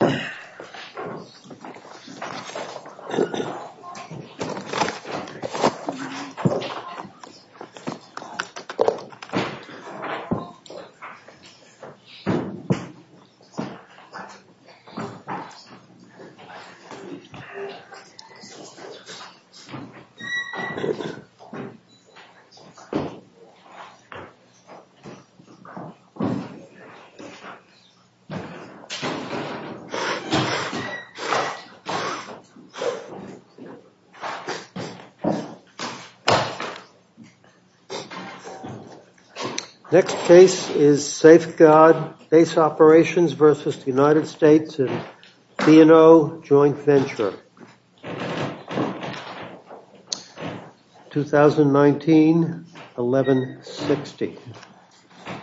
Come to occupation center for the Korean invasion of the United States. Next case is Safeguard Base Operations versus the United States and B&O Joint Venture, 2019-11-60.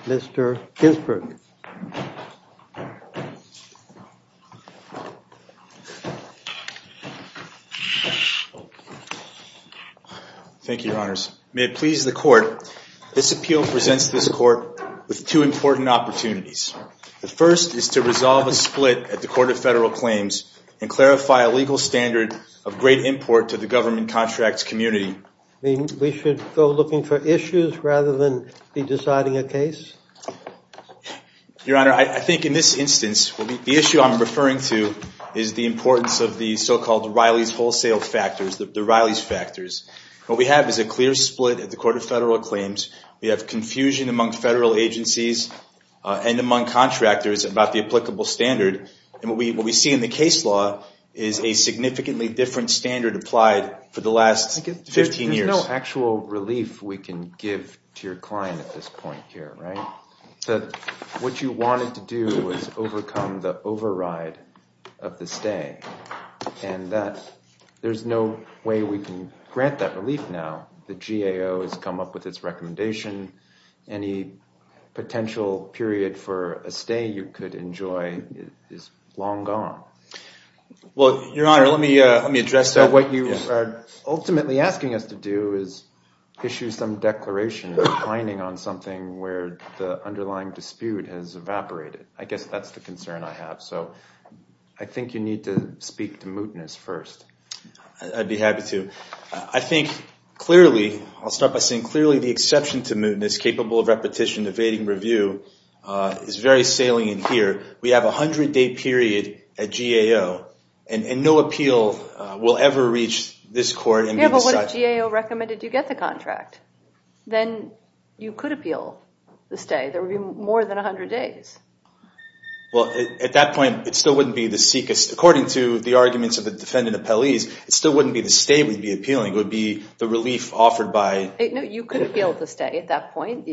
Mr. Ginsberg. Thank you, your honors. May it please the court, this appeal presents this court with two important opportunities. The first is to resolve a split at the Court of Federal Claims and clarify a legal standard of great import to the government contracts community. We should go looking for issues rather than be deciding a case? Your honor, I think in this instance, the issue I'm referring to is the importance of the so-called Riley's wholesale factors, the Riley's factors. What we have is a clear split at the Court of Federal Claims. We have confusion among federal agencies and among contractors about the applicable standard. And what we see in the case law is a significantly different standard applied for the last 15 years. There's no actual relief we can give to your client at this point here, right? What you wanted to do was overcome the override of the stay, and there's no way we can grant that relief now. The GAO has come up with its recommendation. Any potential period for a stay you could enjoy is long gone. Well, your honor, let me let me address that. What you are ultimately asking us to do is issue some declaration declining on something where the underlying dispute has evaporated. I guess that's the concern I have. So I think you need to speak to mootness first. I'd be happy to. I think clearly, I'll start by saying clearly the exception to mootness capable of repetition evading review is very salient here. We have a 100-day period at GAO, and no appeal will ever reach this court and be decided. Yeah, but what if GAO recommended you get the contract? Then you could appeal the stay. There would be more than 100 days. Well, at that point, it still wouldn't be the seekest. According to the arguments of the defendant appellees, it still wouldn't be the stay would be appealing. It would be the relief offered by... No, you could appeal the stay at that point.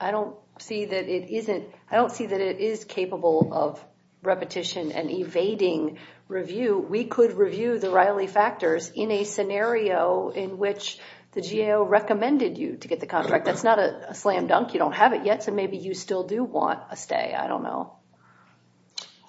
I don't see that it is capable of repetition and evading review. We could review the Riley factors in a scenario in which the GAO recommended you to get the contract. That's not a slam dunk. You don't have it yet, so maybe you still do want a stay. I don't know.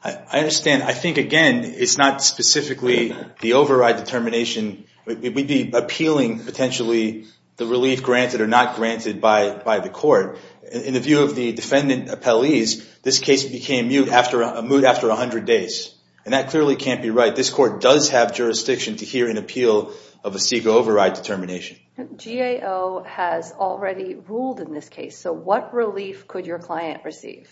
I understand. I think, again, it's not specifically the override determination. We'd be appealing potentially the relief granted or not granted by the court. In the view of the defendant appellees, this case became moot after 100 days, and that clearly can't be right. This court does have jurisdiction to hear an appeal of a CEGA override determination. GAO has already ruled in this case, so what relief could your client receive?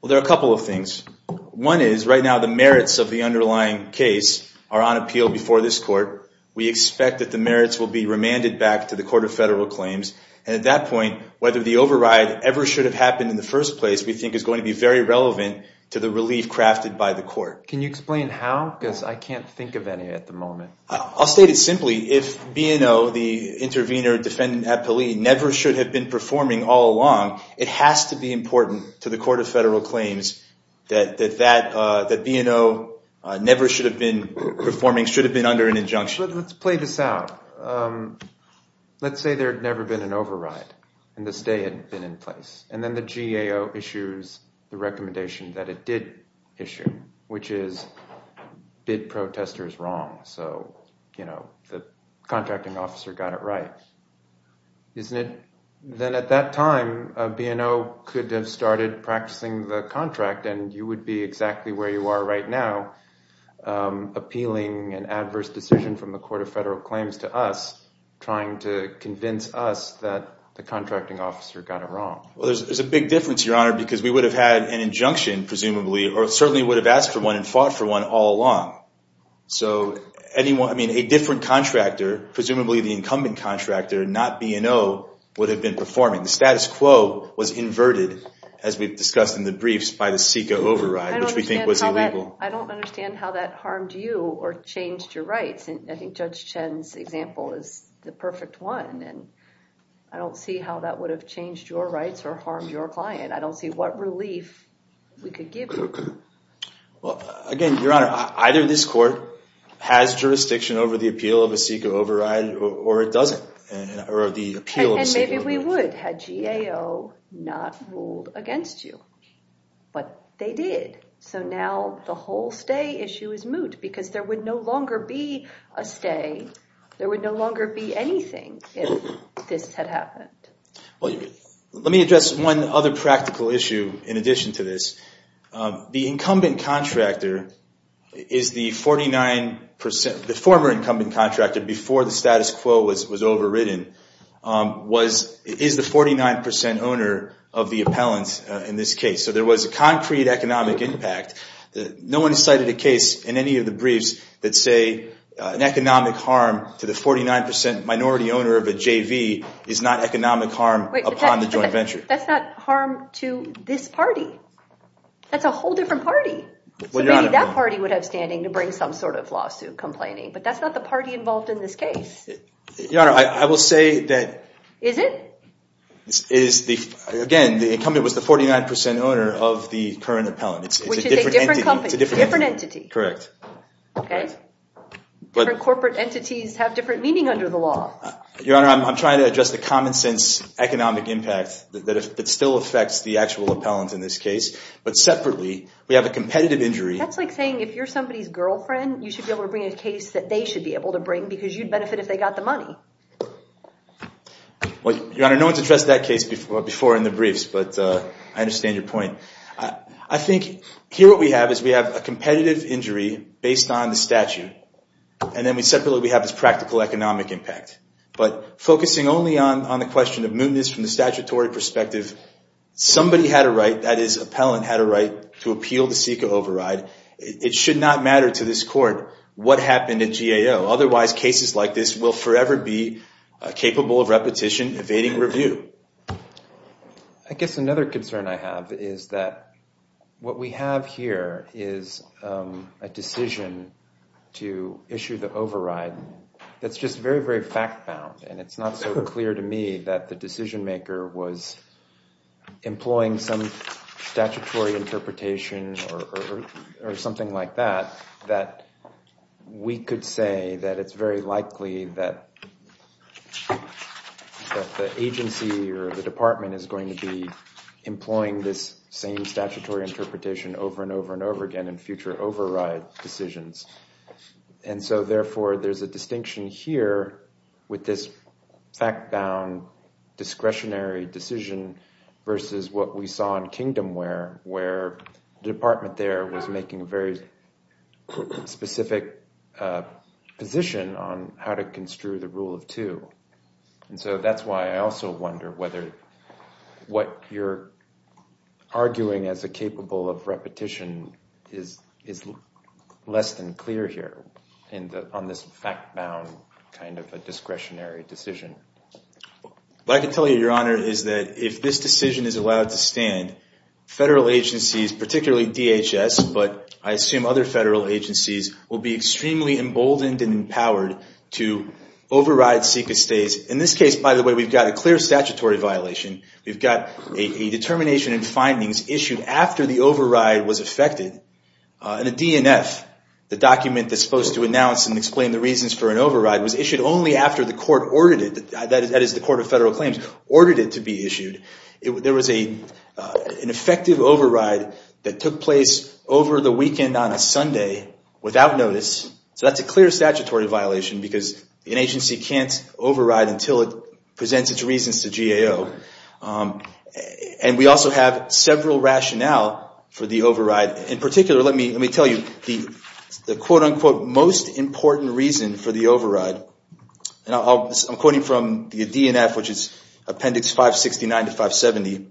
Well, there are a couple of things. One is right now the merits of the underlying case are on appeal before this court. We expect that the merits will be remanded back to the Court of Federal Claims. And at that point, whether the override ever should have happened in the first place, we think, is going to be very relevant to the relief crafted by the court. Can you explain how? Because I can't think of any at the moment. I'll state it simply. If B&O, the intervener defendant appellee, never should have been performing all along, it has to be important to the Court of Federal Claims that B&O never should have been performing, should have been under an injunction. Let's play this out. Let's say there had never been an override and the stay hadn't been in place. And then the GAO issues the recommendation that it did issue, which is bid protesters wrong. So, you know, the contracting officer got it right. Isn't it? Then at that time, B&O could have started practicing the contract and you would be exactly where you are right now, appealing an adverse decision from the Court of Federal Claims to us, trying to convince us that the contracting officer got it wrong. Well, there's a big difference, Your Honor, because we would have had an injunction, presumably, or certainly would have asked for one and fought for one all along. So, I mean, a different contractor, presumably the incumbent contractor, not B&O, would have been performing. The status quo was inverted, as we've discussed in the briefs, by the SECA override, which we think was illegal. I don't understand how that harmed you or changed your rights. I think Judge Chen's example is the perfect one. And I don't see how that would have changed your rights or harmed your client. I don't see what relief we could give you. Well, again, Your Honor, either this court has jurisdiction over the appeal of a SECA override or it doesn't, or the appeal of a SECA override. And maybe we would had GAO not ruled against you. But they did. So now the whole stay issue is moot because there would no longer be a stay. There would no longer be anything if this had happened. Well, let me address one other practical issue in addition to this. The incumbent contractor is the 49% – the former incumbent contractor, before the status quo was overridden, is the 49% owner of the appellant in this case. So there was a concrete economic impact. No one cited a case in any of the briefs that say an economic harm to the 49% minority owner of a JV is not economic harm upon the joint venture. That's not harm to this party. That's a whole different party. So maybe that party would have standing to bring some sort of lawsuit complaining. But that's not the party involved in this case. Your Honor, I will say that – Is it? Again, the incumbent was the 49% owner of the current appellant. Which is a different company. It's a different entity. Correct. Okay. Different corporate entities have different meaning under the law. Your Honor, I'm trying to address the common sense economic impact that still affects the actual appellant in this case. But separately, we have a competitive injury – That's like saying if you're somebody's girlfriend, you should be able to bring a case that they should be able to bring because you'd benefit if they got the money. Your Honor, no one's addressed that case before in the briefs. But I understand your point. I think here what we have is we have a competitive injury based on the statute. And then separately, we have this practical economic impact. But focusing only on the question of mootness from the statutory perspective, somebody had a right – that is, appellant had a right – to appeal the SECA override. It should not matter to this court what happened at GAO. Otherwise, cases like this will forever be capable of repetition, evading review. I guess another concern I have is that what we have here is a decision to issue the override that's just very, very fact-bound. And it's not so clear to me that the decision-maker was employing some statutory interpretation or something like that, that we could say that it's very likely that the agency or the department is going to be employing this same statutory interpretation over and over and over again in future override decisions. And so, therefore, there's a distinction here with this fact-bound discretionary decision versus what we saw in Kingdomware, where the department there was making a very specific position on how to construe the rule of two. And so that's why I also wonder whether what you're arguing as a capable of repetition is less than clear here on this fact-bound kind of a discretionary decision. What I can tell you, Your Honor, is that if this decision is allowed to stand, federal agencies, particularly DHS, but I assume other federal agencies, will be extremely emboldened and empowered to override secret stays. In this case, by the way, we've got a clear statutory violation. We've got a determination and findings issued after the override was effected. In a DNF, the document that's supposed to announce and explain the reasons for an override was issued only after the court ordered it, that is, the Court of Federal Claims, ordered it to be issued. There was an effective override that took place over the weekend on a Sunday without notice. So that's a clear statutory violation because an agency can't override until it presents its reasons to GAO. And we also have several rationale for the override. In particular, let me tell you the quote-unquote most important reason for the override. I'm quoting from the DNF, which is Appendix 569 to 570.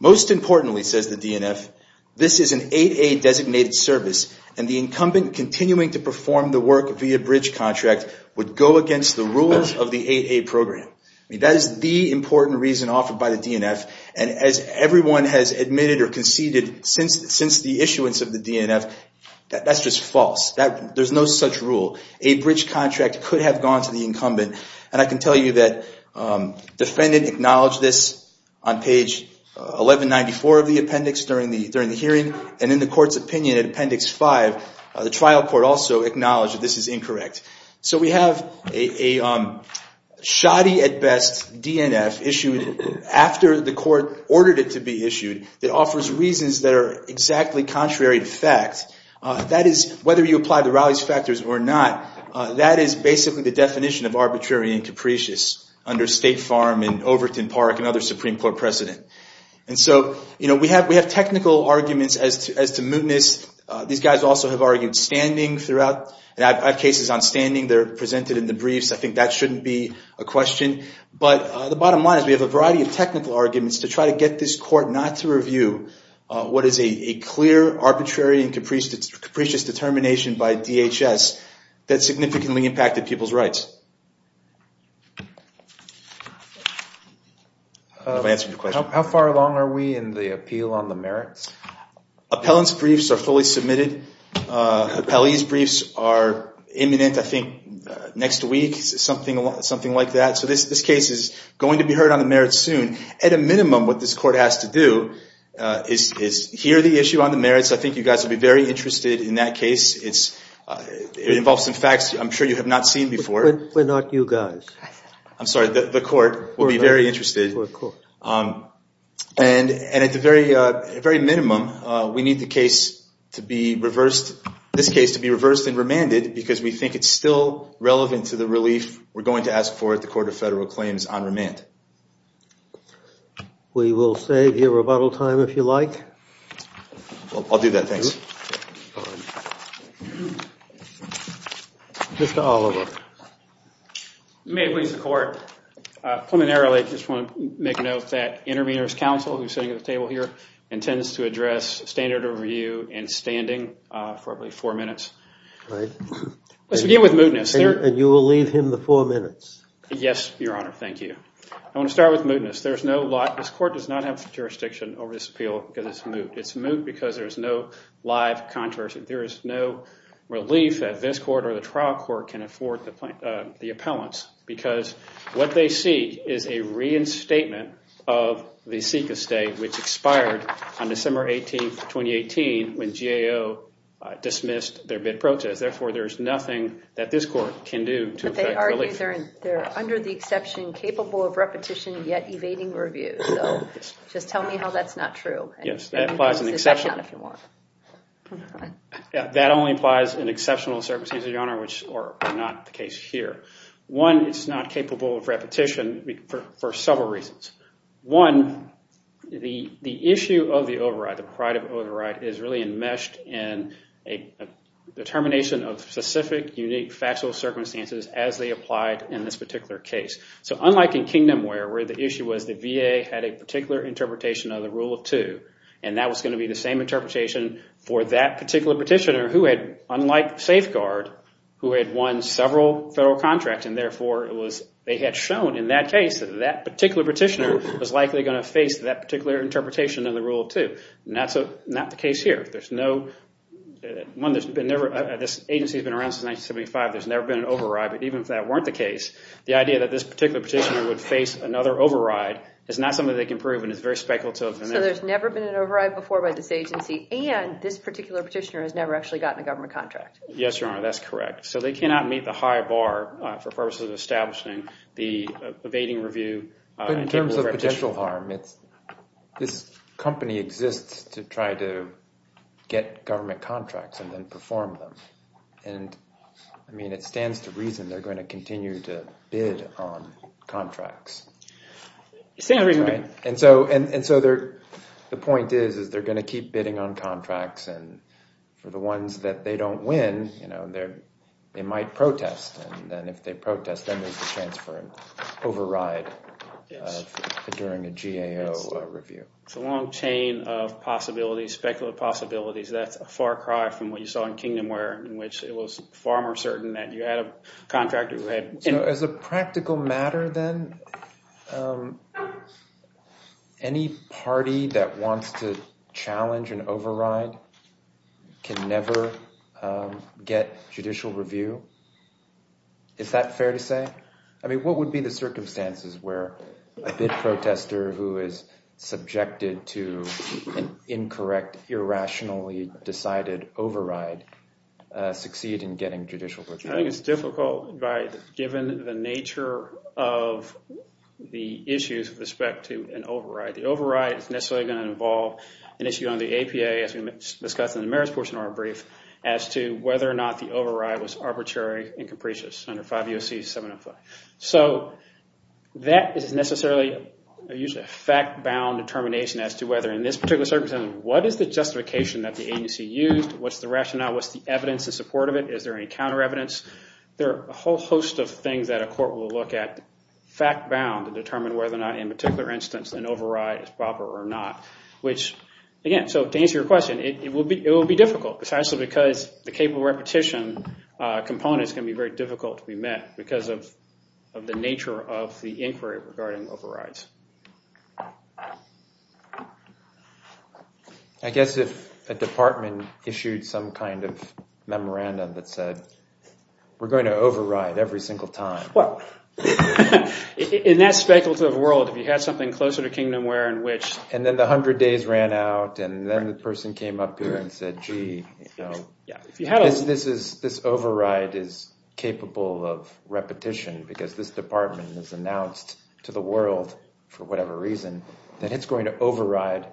Most importantly, says the DNF, this is an 8A designated service, and the incumbent continuing to perform the work via bridge contract would go against the rules of the 8A program. That is the important reason offered by the DNF. And as everyone has admitted or conceded since the issuance of the DNF, that's just false. There's no such rule. A bridge contract could have gone to the incumbent. And I can tell you that defendant acknowledged this on page 1194 of the appendix during the hearing. And in the court's opinion at Appendix 5, the trial court also acknowledged that this is incorrect. So we have a shoddy at best DNF issued after the court ordered it to be issued that offers reasons that are exactly contrary to fact. That is, whether you apply the Rowley's factors or not, that is basically the definition of arbitrary and capricious under State Farm and Overton Park and other Supreme Court precedent. And so, you know, we have technical arguments as to mootness. These guys also have argued standing throughout. I have cases on standing that are presented in the briefs. I think that shouldn't be a question. But the bottom line is we have a variety of technical arguments to try to get this court not to review what is a clear, arbitrary, and capricious determination by DHS that significantly impacted people's rights. How far along are we in the appeal on the merits? Appellant's briefs are fully submitted. Appellee's briefs are imminent, I think, next week, something like that. So this case is going to be heard on the merits soon. At a minimum, what this court has to do is hear the issue on the merits. I think you guys will be very interested in that case. It involves some facts I'm sure you have not seen before. We're not you guys. I'm sorry, the court will be very interested. We're a court. And at the very minimum, we need this case to be reversed and remanded because we think it's still relevant to the relief we're going to ask for at the Court of Federal Claims on remand. We will save your rebuttal time if you like. I'll do that, thanks. Mr. Oliver. May it please the Court. Preliminarily, I just want to make a note that Intervenors' Counsel, who is sitting at the table here, intends to address standard of review and standing for four minutes. Let's begin with mootness. And you will leave him the four minutes. Yes, Your Honor, thank you. I want to start with mootness. This court does not have jurisdiction over this appeal because it's moot. It's moot because there is no live controversy. There is no relief that this court or the trial court can afford the appellants. Because what they see is a reinstatement of the SECA state, which expired on December 18, 2018, when GAO dismissed their bid process. Therefore, there is nothing that this court can do to effect relief. But they argue they're under the exception, capable of repetition, yet evading review. So just tell me how that's not true. Yes, that implies an exception. That only applies in exceptional circumstances, Your Honor, which are not the case here. One, it's not capable of repetition for several reasons. One, the issue of the override, the proprietive override, is really enmeshed in a determination of specific, unique, factual circumstances as they applied in this particular case. So unlike in Kingdomware, where the issue was the VA had a particular interpretation of the Rule of Two, and that was going to be the same interpretation for that particular petitioner, who had, unlike Safeguard, who had won several federal contracts, and therefore they had shown in that case that that particular petitioner was likely going to face that particular interpretation of the Rule of Two. That's not the case here. One, this agency has been around since 1975. There's never been an override. But even if that weren't the case, the idea that this particular petitioner would face another override is not something they can prove, and it's very speculative. So there's never been an override before by this agency, and this particular petitioner has never actually gotten a government contract. Yes, Your Honor, that's correct. So they cannot meet the high bar for purposes of establishing the evading review and capable of repetition. But in terms of potential harm, this company exists to try to get government contracts and then perform them. And, I mean, it stands to reason they're going to continue to bid on contracts. It stands to reason. And so the point is is they're going to keep bidding on contracts, and for the ones that they don't win, they might protest. And then if they protest, then there's a chance for an override during a GAO review. It's a long chain of possibilities, speculative possibilities. That's a far cry from what you saw in Kingdomware in which it was far more certain that you had a contractor who had— So as a practical matter then, any party that wants to challenge an override can never get judicial review? Is that fair to say? I mean, what would be the circumstances where a bid protester who is subjected to an incorrect, irrationally decided override succeeds in getting judicial review? I think it's difficult given the nature of the issues with respect to an override. The override is necessarily going to involve an issue on the APA, as we discussed in the merits portion of our brief, as to whether or not the override was arbitrary and capricious under 5 U.S.C. 705. So that is necessarily usually a fact-bound determination as to whether in this particular circumstance, what is the justification that the agency used? What's the rationale? What's the evidence in support of it? Is there any counter evidence? There are a whole host of things that a court will look at, fact-bound, to determine whether or not in a particular instance an override is proper or not. Again, to answer your question, it will be difficult precisely because the capable repetition component is going to be very difficult to be met because of the nature of the inquiry regarding overrides. I guess if a department issued some kind of memorandum that said, we're going to override every single time. Well, in that speculative world, if you had something closer to Kingdomware in which... And then the 100 days ran out, and then the person came up here and said, gee, this override is capable of repetition because this department has announced to the world, for whatever reason, that it's going to override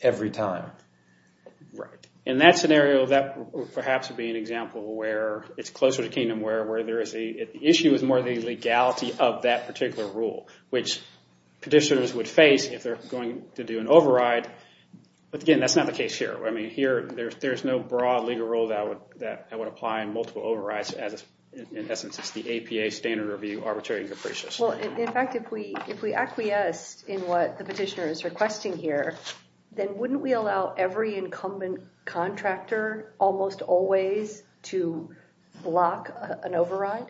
every time. Right. In that scenario, that perhaps would be an example where it's closer to Kingdomware, where the issue is more the legality of that particular rule, which petitioners would face if they're going to do an override. But again, that's not the case here. There's no broad legal rule that would apply in multiple overrides. In essence, it's the APA standard review, arbitrary and capricious. Well, in fact, if we acquiesced in what the petitioner is requesting here, then wouldn't we allow every incumbent contractor almost always to block an override?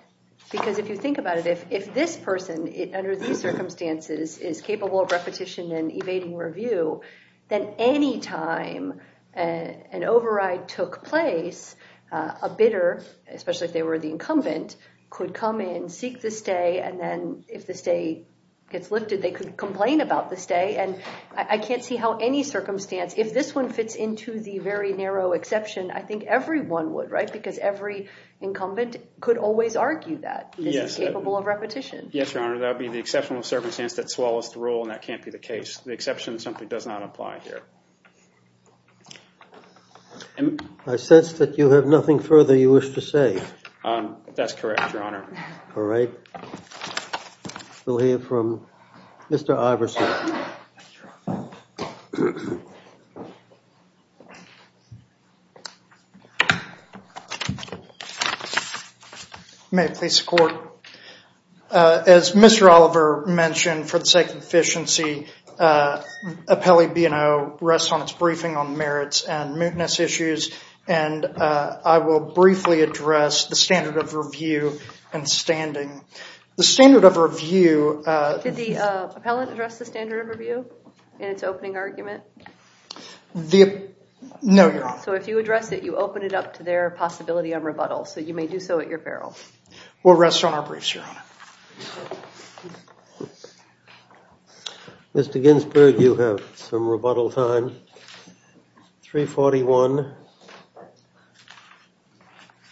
Because if you think about it, if this person, under these circumstances, is capable of repetition and evading review, then any time an override took place, a bidder, especially if they were the incumbent, could come in, seek the stay, and then if the stay gets lifted, they could complain about the stay. And I can't see how any circumstance, if this one fits into the very narrow exception, I think everyone would, right, because every incumbent could always argue that. Yes. This is capable of repetition. Yes, Your Honor. That would be the exceptional circumstance that swallows the rule, and that can't be the case. The exception simply does not apply here. I sense that you have nothing further you wish to say. That's correct, Your Honor. All right. We'll hear from Mr. Iverson. May it please the Court. As Mr. Oliver mentioned, for the sake of efficiency, appellee B&O rests on its briefing on merits and mootness issues, and I will briefly address the standard of review and standing. The standard of review... Did the appellant address the standard of review in its opening argument? No, Your Honor. So if you address it, you open it up to their possibility of rebuttal, so you may do so at your peril. We'll rest on our briefs, Your Honor. Mr. Ginsburg, you have some rebuttal time. 341.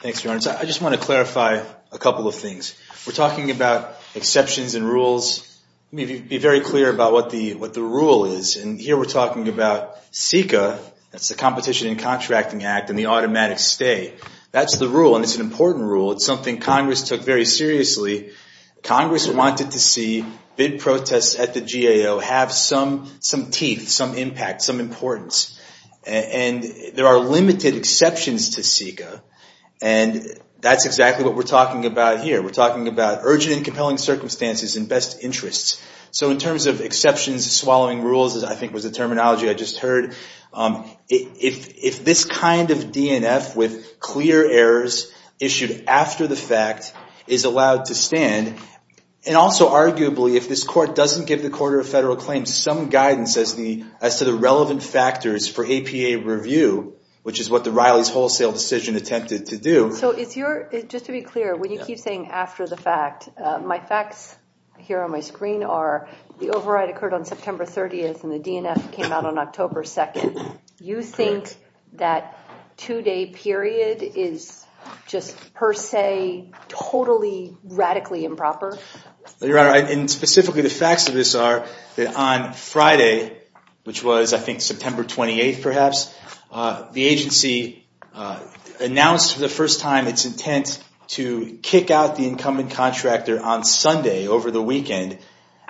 Thanks, Your Honor. I just want to clarify a couple of things. We're talking about exceptions and rules. Let me be very clear about what the rule is. Here we're talking about CICA, that's the Competition and Contracting Act, and the automatic stay. That's the rule, and it's an important rule. It's something Congress took very seriously. Congress wanted to see bid protests at the GAO have some teeth, some impact, some importance. And there are limited exceptions to CICA, and that's exactly what we're talking about here. We're talking about urgent and compelling circumstances and best interests. So in terms of exceptions, swallowing rules, I think was the terminology I just heard, if this kind of DNF with clear errors issued after the fact is allowed to stand, and also arguably if this Court doesn't give the Court of Federal Claims some guidance as to the relevant factors for APA review, which is what the Riley's Wholesale Decision attempted to do. So just to be clear, when you keep saying after the fact, my facts here on my screen are the override occurred on September 30th and the DNF came out on October 2nd. You think that two-day period is just per se totally radically improper? Your Honor, and specifically the facts of this are that on Friday, which was I think September 28th perhaps, the agency announced for the first time its intent to kick out the incumbent contractor on Sunday over the weekend,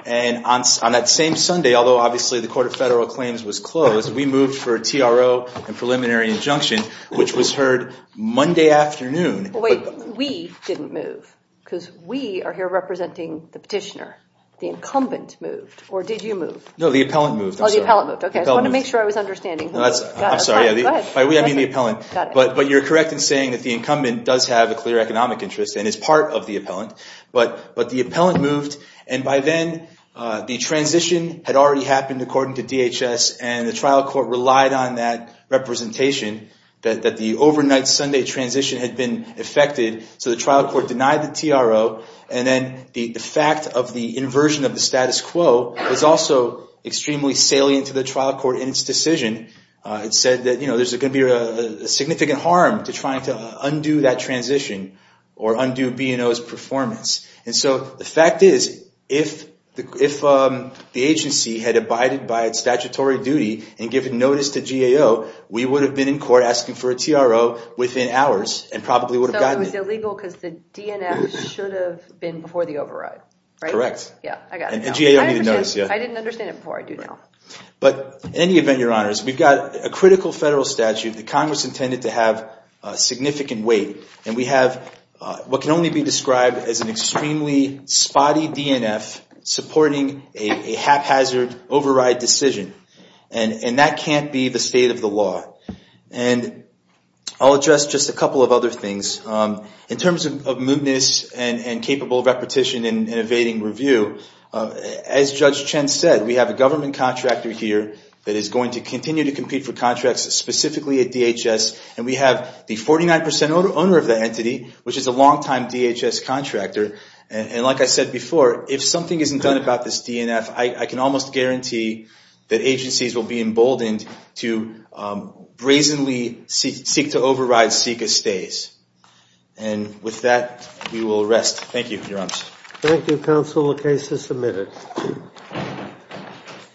and on that same Sunday, although obviously the Court of Federal Claims was closed, we moved for a TRO and preliminary injunction, which was heard Monday afternoon. Wait, we didn't move because we are here representing the petitioner. The incumbent moved, or did you move? No, the appellant moved. Oh, the appellant moved. I just wanted to make sure I was understanding. I'm sorry. By we, I mean the appellant. But you're correct in saying that the incumbent does have a clear economic interest and is part of the appellant, but the appellant moved, and by then the transition had already happened according to DHS, and the trial court relied on that representation, that the overnight Sunday transition had been effected, so the trial court denied the TRO, and then the fact of the inversion of the status quo was also extremely salient to the trial court in its decision. It said that there's going to be a significant harm to trying to undo that transition or undo B&O's performance. And so the fact is if the agency had abided by its statutory duty and given notice to GAO, we would have been in court asking for a TRO within hours and probably would have gotten it. So it was illegal because the DNF should have been before the override, right? Correct. Yeah, I got it now. And GAO needed notice, yeah. I didn't understand it before. I do now. But in any event, Your Honors, we've got a critical federal statute that Congress intended to have significant weight, and we have what can only be described as an extremely spotty DNF supporting a haphazard override decision. And that can't be the state of the law. And I'll address just a couple of other things. In terms of mootness and capable repetition in evading review, as Judge Chen said, we have a government contractor here that is going to continue to compete for contracts specifically at DHS, and we have the 49% owner of that entity, which is a longtime DHS contractor. And like I said before, if something isn't done about this DNF, I can almost guarantee that agencies will be emboldened to brazenly seek to override CICA stays. And with that, we will rest. Thank you, Your Honors. Thank you, Counsel. The case is submitted.